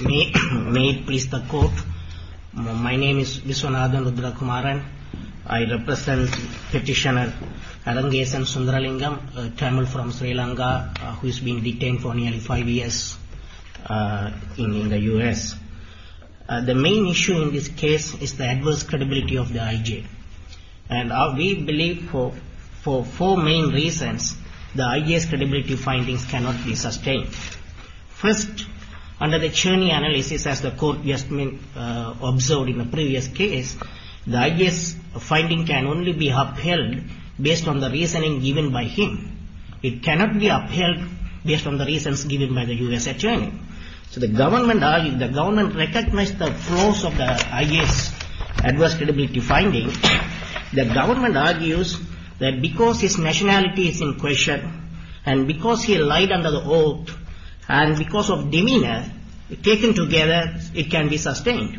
May it please the court. My name is Viswanathan Rudrakumaran. I represent Petitioner Adangesan Sundaralingam, Tamil from Sri Lanka, who has been detained for nearly 5 years in the US. The main issue in this case is the adverse credibility of the IJ. And we believe for four main reasons the IJ's credibility findings cannot be sustained. First, under the Churney analysis as the court just observed in the previous case, the IJ's finding can only be upheld based on the reasoning given by him. It cannot be upheld based on the reasons given by the US attorney. So the government recognized the flaws of the IJ's adverse credibility findings. The government argues that because his nationality is in question, and because he lied under the oath, and because of demeanour taken together, it can be sustained.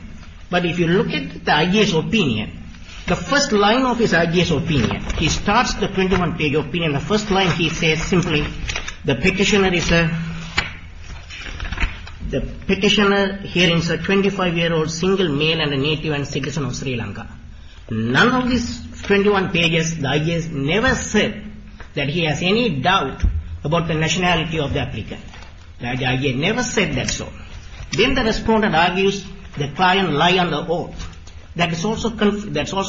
But if you look at the IJ's opinion, the first line of his IJ's opinion, he starts the 21-page opinion, the first line he says simply, the petitioner is a 25-year-old single male and native and citizen of Sri Lanka. None of these 21 pages, the IJ has never said that he has any doubt about the nationality of the applicant. The IJ never said that so. Then the respondent argues the client lied on the oath. That is also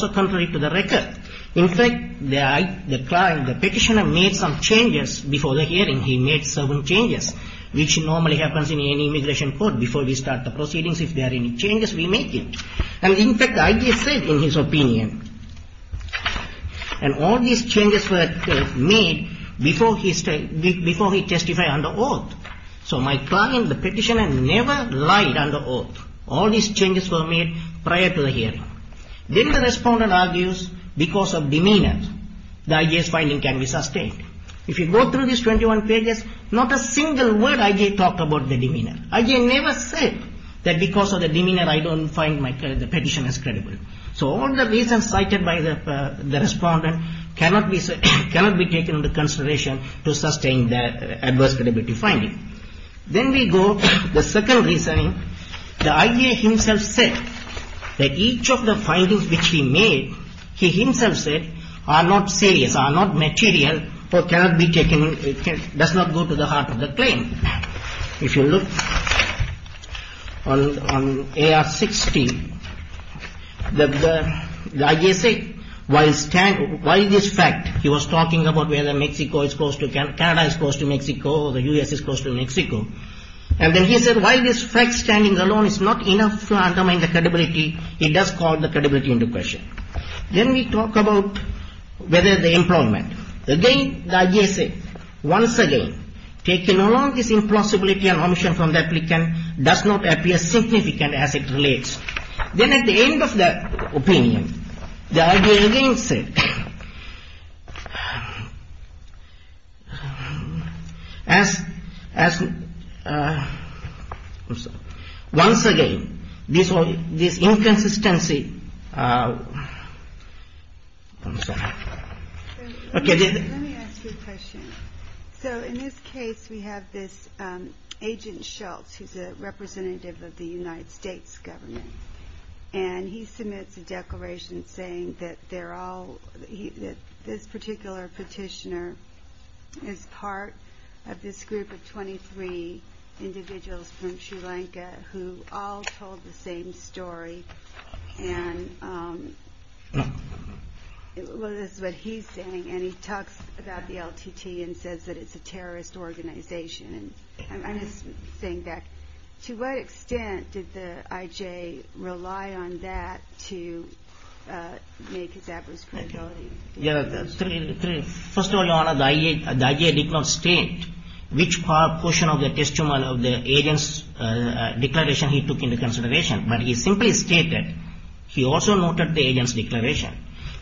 contrary to the record. In fact, the petitioner made some changes before the hearing. He made certain changes, which normally happens in any immigration court. Before we start the proceedings, if In fact, the IJ said in his opinion, and all these changes were made before he testified under oath. So my client, the petitioner, never lied under oath. All these changes were made prior to the hearing. Then the respondent argues because of demeanour, the IJ's finding can be sustained. If you go through these 21 pages, not a single word IJ talked about the demeanour. IJ never said that because of the demeanour, I don't find the petitioner credible. So all the reasons cited by the respondent cannot be taken into consideration to sustain that adverse credibility finding. Then we go to the second reasoning. The IJ himself said that each of the findings which he made, he himself said, are not serious, are not material, or cannot be taken, does not go to the heart of the claim. If you look on AR 60, the IJ said, why this fact, he was talking about whether Mexico is close to, Canada is close to Mexico, the U.S. is close to Mexico, and then he said why this fact standing alone is not enough to undermine the credibility, it does call the credibility into question. Then we talk about whether the employment. Again, the IJ said, once again, taking along this impossibility and omission from the applicant does not appear significant as it relates. Then at the end of the opinion, the IJ again said, as, as, I'm sorry, once again, this inconsistency, I'm sorry, okay. Let me ask you a question. So in this case, we have this agent Schultz, who's a representative of the United States government, and he submits a declaration saying that they're all, this particular petitioner is part of this group of 23 individuals from Sri Lanka, who all told the same story. And, well, this is what he's saying, and he talks about the LTT and says that it's a terrorist organization. And I'm just saying that, to what extent did the IJ rely on that to make his adverse credibility? Yeah, first of all, Your Honor, the IJ did not state which portion of the testimony of the agent's declaration he took into consideration, but he simply stated, he also noted the agent's declaration.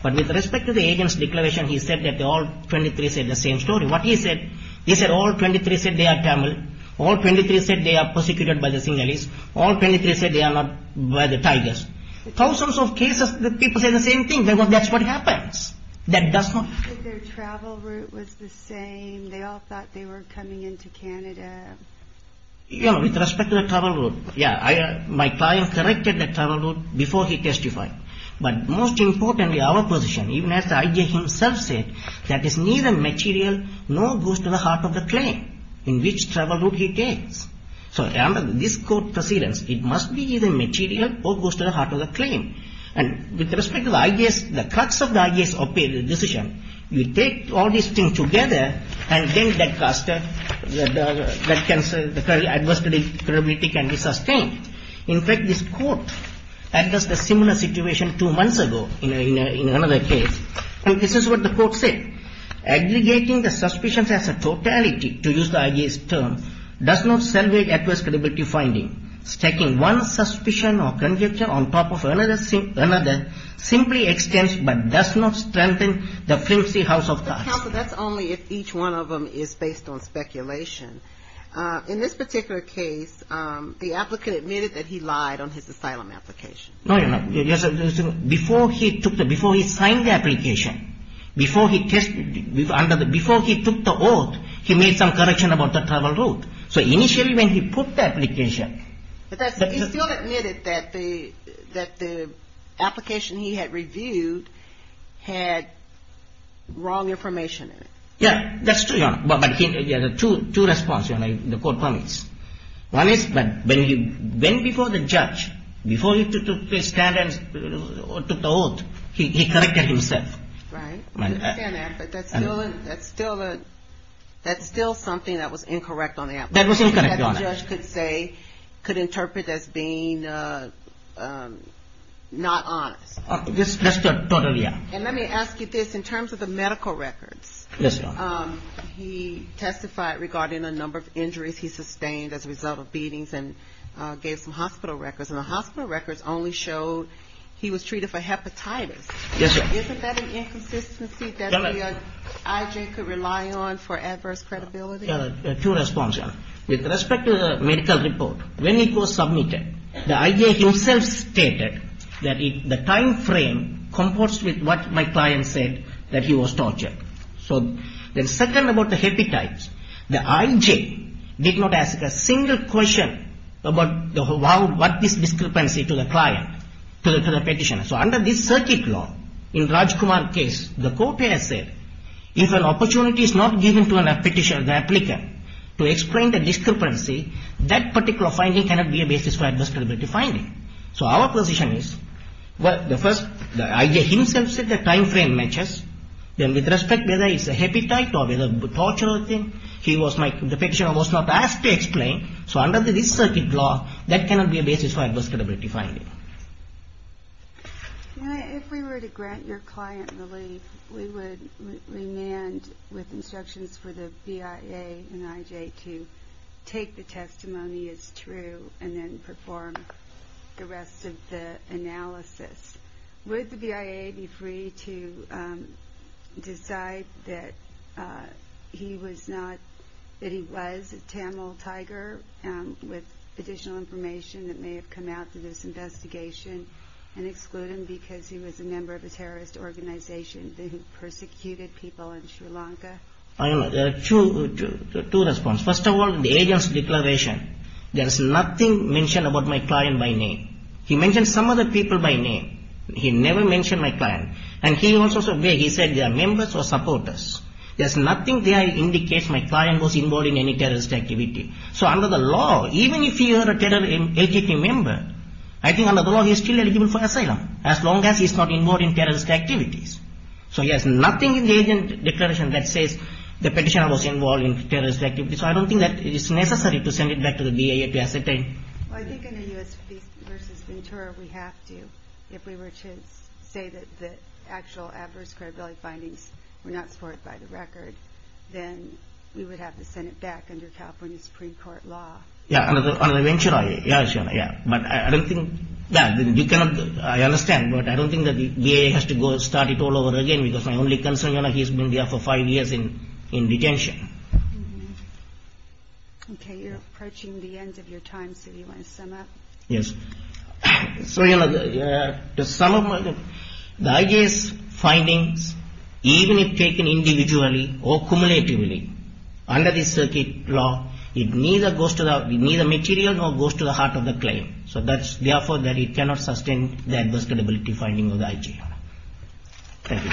But with respect to the agent's declaration, he said that all 23 said the same story. What he said, he said all 23 said they are Tamil, all 23 said they are persecuted by the Tigers. Thousands of cases, the people say the same thing. They go, that's what happens. That does not happen. Their travel route was the same. They all thought they were coming into Canada. You know, with respect to the travel route, yeah, my client corrected the travel route before he testified. But most importantly, our position, even as the IJ himself said, that is neither material nor goes to the heart of the claim in which travel route he takes. So under this court precedence, it must be either material or goes to the heart of the claim. And with respect to the IJ's, the cuts of the IJ's decision, you take all these things together, and then that cancer, the adverse credibility can be sustained. In fact, this court addressed a similar situation two months ago in another case. This is what the court said. Aggregating the suspicions as a totality, to use the IJ's term, does not salvage adverse credibility finding. Stacking one suspicion or conjecture on top of another simply extends but does not strengthen the flimsy house of cards. Counsel, that's only if each one of them is based on speculation. In this particular case, the applicant admitted that he lied on his asylum application. No, Your Honor. Before he signed the application, before he took the oath, he made some correction about the travel route. So initially when he put the application... But he still admitted that the application he had reviewed had wrong information in it. Yeah, that's true, Your Honor. But there are two responses, Your Honor, the court permits. One is that when he went before the judge, before he took the stand and took the oath, he corrected himself. Right, I understand that, but that's still something that was incorrect on the application. That was incorrect, Your Honor. That the judge could say, could interpret as being not honest. That's totally honest. And let me ask you this, in terms of the medical records. Yes, Your Honor. He testified regarding a number of injuries he sustained as a result of beatings and gave some hospital records. And the hospital records only showed he was treated for hepatitis. Yes, Your Honor. Isn't that an inconsistency that the I.J. could rely on for adverse credibility? Two responses, Your Honor. With respect to the medical report, when it was submitted, the I.J. himself stated that the time frame comports with what my client said, that he was tortured. So the second about the hepatitis, the I.J. did not ask a single question about what this discrepancy to the client, to the petitioner. So under this circuit law, in Rajkumar's case, the court has said, if an opportunity is not given to a petitioner, the applicant, to explain the discrepancy, that particular finding cannot be a basis for adverse credibility finding. So our position is, the first, the I.J. himself said the time frame matches. Then with respect to whether it's a hepatite or whether it's a tortuous thing, the petitioner was not asked to explain. So under this circuit law, that cannot be a basis for adverse credibility finding. If we were to grant your client relief, we would remand with instructions for the BIA and I.J. to take the testimony as is and perform the rest of the analysis. Would the BIA be free to decide that he was a Tamil tiger with additional information that may have come out through this investigation and exclude him because he was a member of a terrorist organization that persecuted people in Sri Lanka? There are two responses. First of all, in the agent's declaration, there is nothing mentioned about my client by name. He mentioned some other people by name. He never mentioned my client. And he also said they are members or supporters. There is nothing there that indicates my client was involved in any terrorist activity. So under the law, even if he were a LGBT member, I think under the law he is still eligible for asylum, as long as he is not involved in the petition that was involved in terrorist activity. So I don't think that it is necessary to send it back to the BIA to ascertain. Well, I think in a U.S. v. Ventura, we have to. If we were to say that the actual adverse credibility findings were not supported by the record, then we would have to send it back under California Supreme Court law. Yeah, under Ventura, yeah. But I don't think that, you cannot, I understand. But I don't think that the BIA has to go and start it all over again because my only concern, you know, he's been there for five years in detention. Okay, you're approaching the end of your time, so do you want to sum up? Yes. So, you know, to sum up, the IJ's findings, even if taken individually or cumulatively, under the circuit law, it neither goes to the, neither material nor goes to the heart of the claim. So that's, therefore, that it cannot sustain the adverse credibility finding of the IJ. Thank you.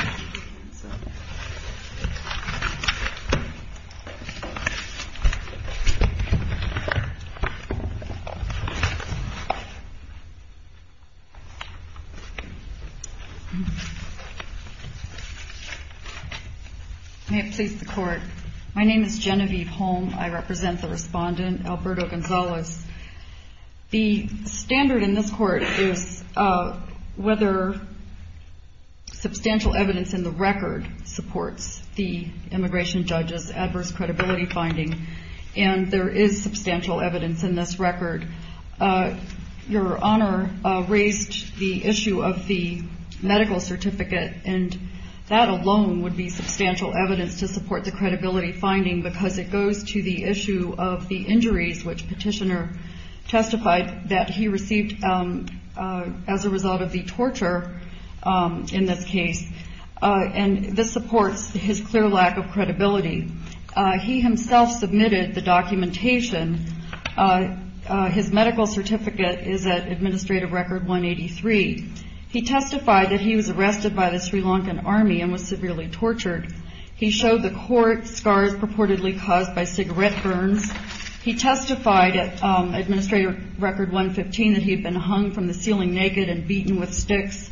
May it please the Court. My name is Genevieve Holm. I represent the respondent, Alberto Gonzalez. The standard in this Court is whether substantial evidence in the record supports the immigration judge's adverse credibility finding, and there is substantial evidence in this record. Your Honor raised the issue of the medical certificate, and that alone would be substantial evidence to support the credibility finding because it goes to the issue of the injuries which Petitioner testified that he received as a result of the torture in this case, and this supports his clear lack of credibility. He himself submitted the documentation. His medical certificate is at Administrative Record 183. He testified that he was arrested by the Sri Lankan Army and was severely tortured. He showed the court scars purportedly caused by Administrative Record 115 that he had been hung from the ceiling naked and beaten with sticks,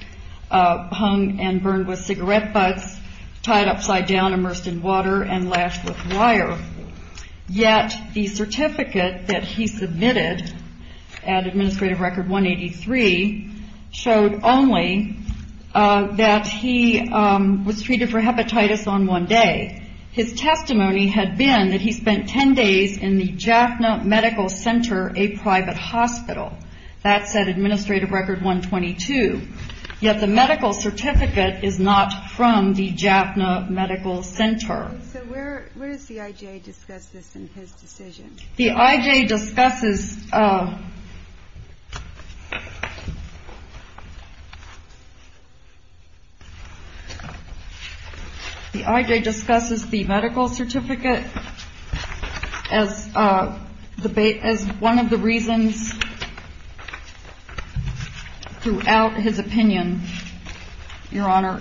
hung and burned with cigarette butts, tied upside down, immersed in water, and lashed with wire. Yet the certificate that he submitted at Administrative Record 183 showed only that he was treated for hepatitis on one day. His testimony had been that he spent 10 days in the Jaffna Medical Center, a private hospital. That's at Administrative Record 122. Yet the medical certificate is not from the Jaffna Medical Center. So where does the I.J. discuss this in his decision? The I.J. discusses The I.J. discusses the medical certificate as one of the reasons throughout his opinion, Your Honor.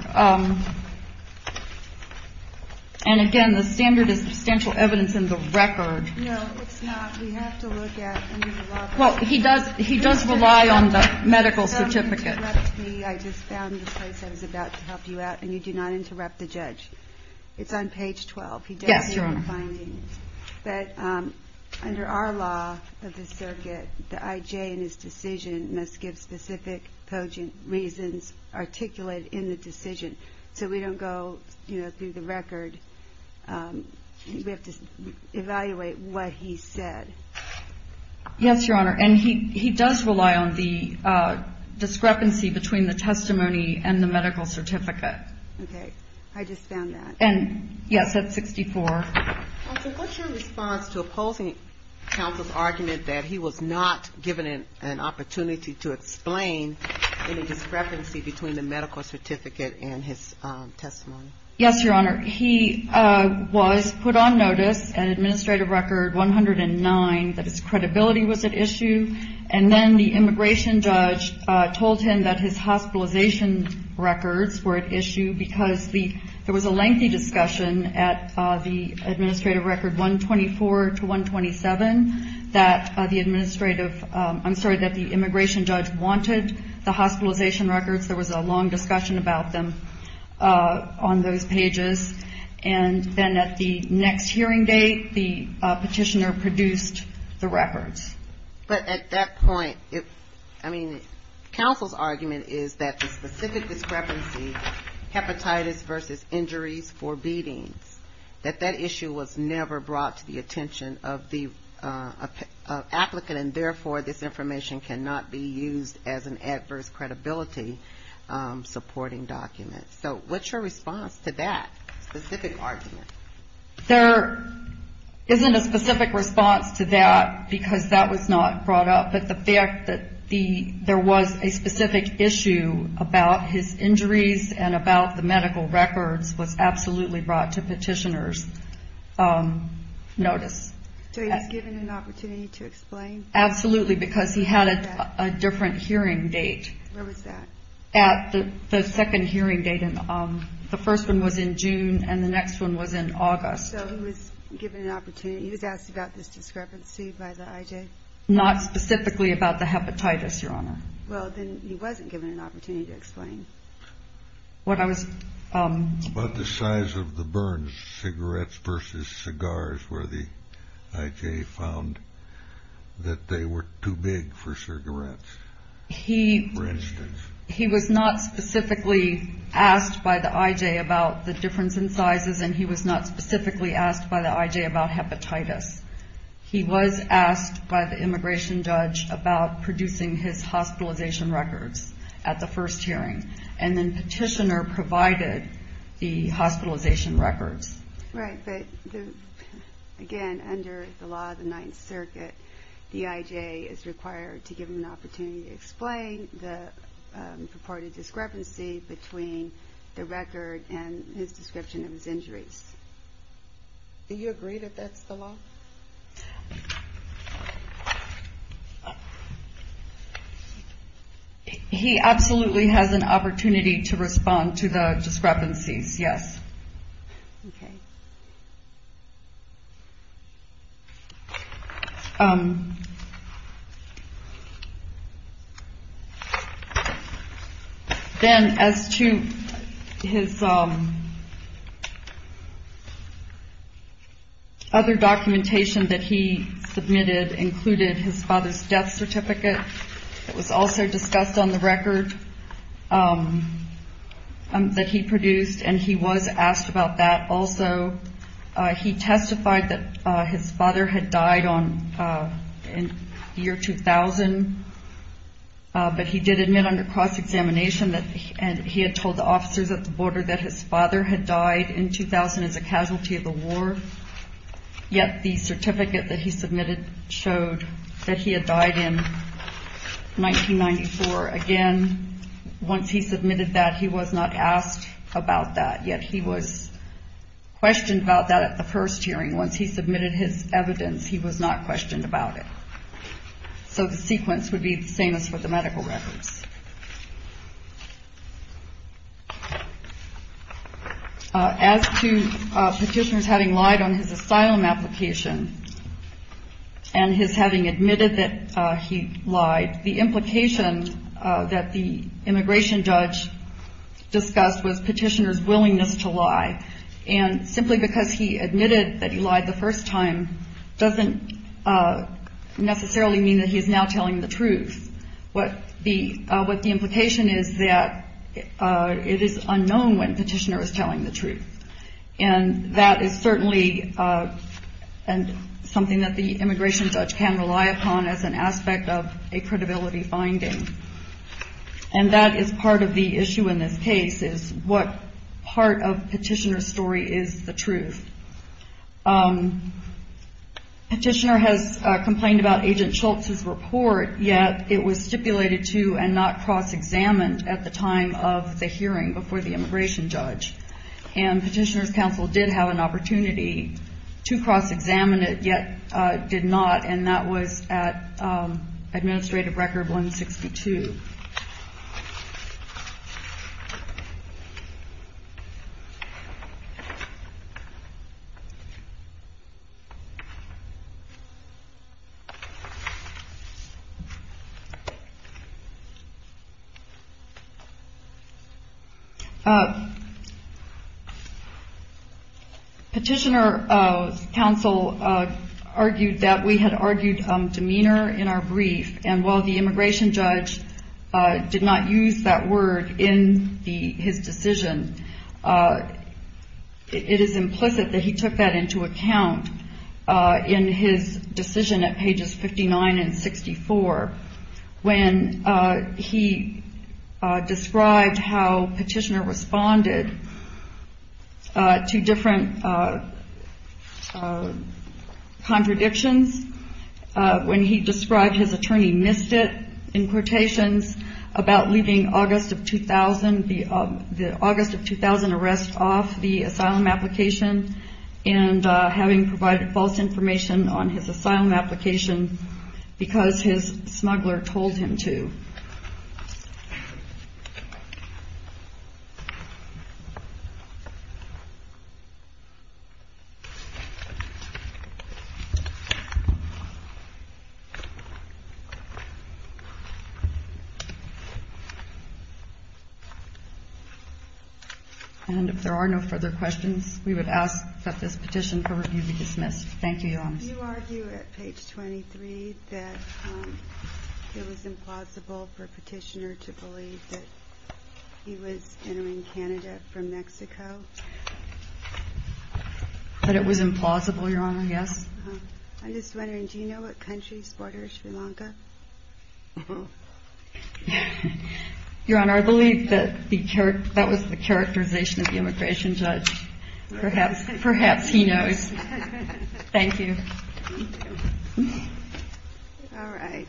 And again, the standard is substantial evidence in the record. No, it's not. We have to look at any of the law. Well, he does rely on the medical certificate. If you don't interrupt me, I just found the place I was about to help you out, and you do not interrupt the judge. It's on page 12. Yes, Your Honor. But under our law of the circuit, the I.J. in his decision must give specific poignant reasons articulated in the decision. So we don't go, you know, through the record. We have to evaluate what he said. Yes, Your Honor. And he does rely on the discrepancy between the testimony and the medical certificate. Okay. I just found that. And yes, that's 64. Counsel, what's your response to opposing counsel's argument that he was not given an opportunity to explain any discrepancy between the medical certificate and his testimony? Yes, Your Honor. He was put on notice, an administrative record 109, that his credibility was at issue. And then the immigration judge told him that his hospitalization records were at issue because there was a lengthy discussion at the administrative record 124 to 127 that the administrative, I'm sorry, that the immigration judge wanted the hospitalization records. There was a long discussion about them on those pages. And then at the next hearing date, the petitioner produced the records. But at that point, I mean, counsel's argument is that the specific discrepancy, hepatitis versus injuries for beatings, that that issue was never brought to the attention of the applicant. And therefore, this information cannot be used as an adverse credibility supporting document. So what's your response to that specific argument? There isn't a specific response to that because that was not brought up. But the fact that there was a specific issue about his injuries and about the medical records was absolutely brought to petitioner's notice. So he was given an opportunity to explain? Absolutely, because he had a different hearing date. Where was that? At the second hearing date. The first one was in June and the next one was in August. So he was given an opportunity. He was asked about this discrepancy by the IJ? Not specifically about the hepatitis, Your Honor. What I was... About the size of the burns, cigarettes versus cigars, where the IJ found that they were too big for cigarettes, for instance. He was not specifically asked by the IJ about the difference in sizes and he was not specifically asked by the IJ about hepatitis. He was asked by the immigration judge about producing his and petitioner provided the hospitalization records. Right, but again, under the law of the Ninth Circuit, the IJ is required to give him an opportunity to explain the purported discrepancy between the record and his description of his injuries. Do you agree that that's the law? He absolutely has an opportunity to respond to the discrepancies, yes. Okay. Then as to his other documentation that he submitted included his father's death certificate that was also discussed on the record that he produced and he was asked about that. Also, he testified that his father had died in the year 2000, but he did admit under cross-examination that he had told the officers at the border that his father had died in 2000 as a casualty of the war, yet the certificate that he submitted showed that he had died in 1994. Again, once he submitted that, he was not asked about that, yet he was questioned about that at the first hearing. Once he submitted his evidence, he was not questioned about it, so the sequence would be the same as for the medical records. As to petitioners having lied on his asylum application and his having admitted that he lied, the implication that the immigration judge discussed was petitioner's willingness to lie. Simply because he admitted that he lied the first time doesn't necessarily mean that he is now telling the truth. What the implication is that it is unknown when the petitioner is telling the truth. That is certainly something that the immigration judge can rely upon as an aspect of a credibility finding, and that is part of the issue in this case, is what part of petitioner's story is the truth. Petitioner has complained about Agent Schultz's report, yet it was stipulated to and not cross-examined at the time of the hearing before the immigration judge, and petitioner's counsel did have an opportunity to cross-examine it, yet did not, and that was at Administrative Record 162. Petitioner's counsel argued that we had argued demeanor in our brief, and while the in his decision, it is implicit that he took that into account in his decision at pages 59 and 64, when he described how petitioner responded to different contradictions, when he described his attorney missed it in quotations about leaving the August of 2000 arrest off the asylum application, and having provided false information on his asylum application because his smuggler told him to. And if there are no further questions, we would ask that this petition for review be dismissed. Thank you, Your Honor. You argue at page 23 that it was implausible for petitioner to believe that he was entering Canada from Mexico? That it was implausible, Your Honor, yes. I'm just wondering, do you know what country supporters Sri Lanka? Your Honor, I believe that was the characterization of the immigration judge. Perhaps he knows. Thank you. All right.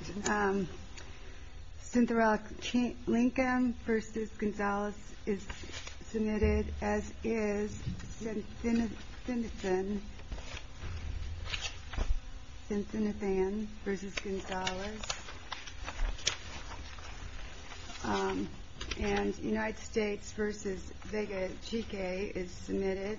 Synthra Lincoln versus Gonzalez is submitted, as is Sinithan versus Gonzalez, and United States versus Vega Chike is submitted.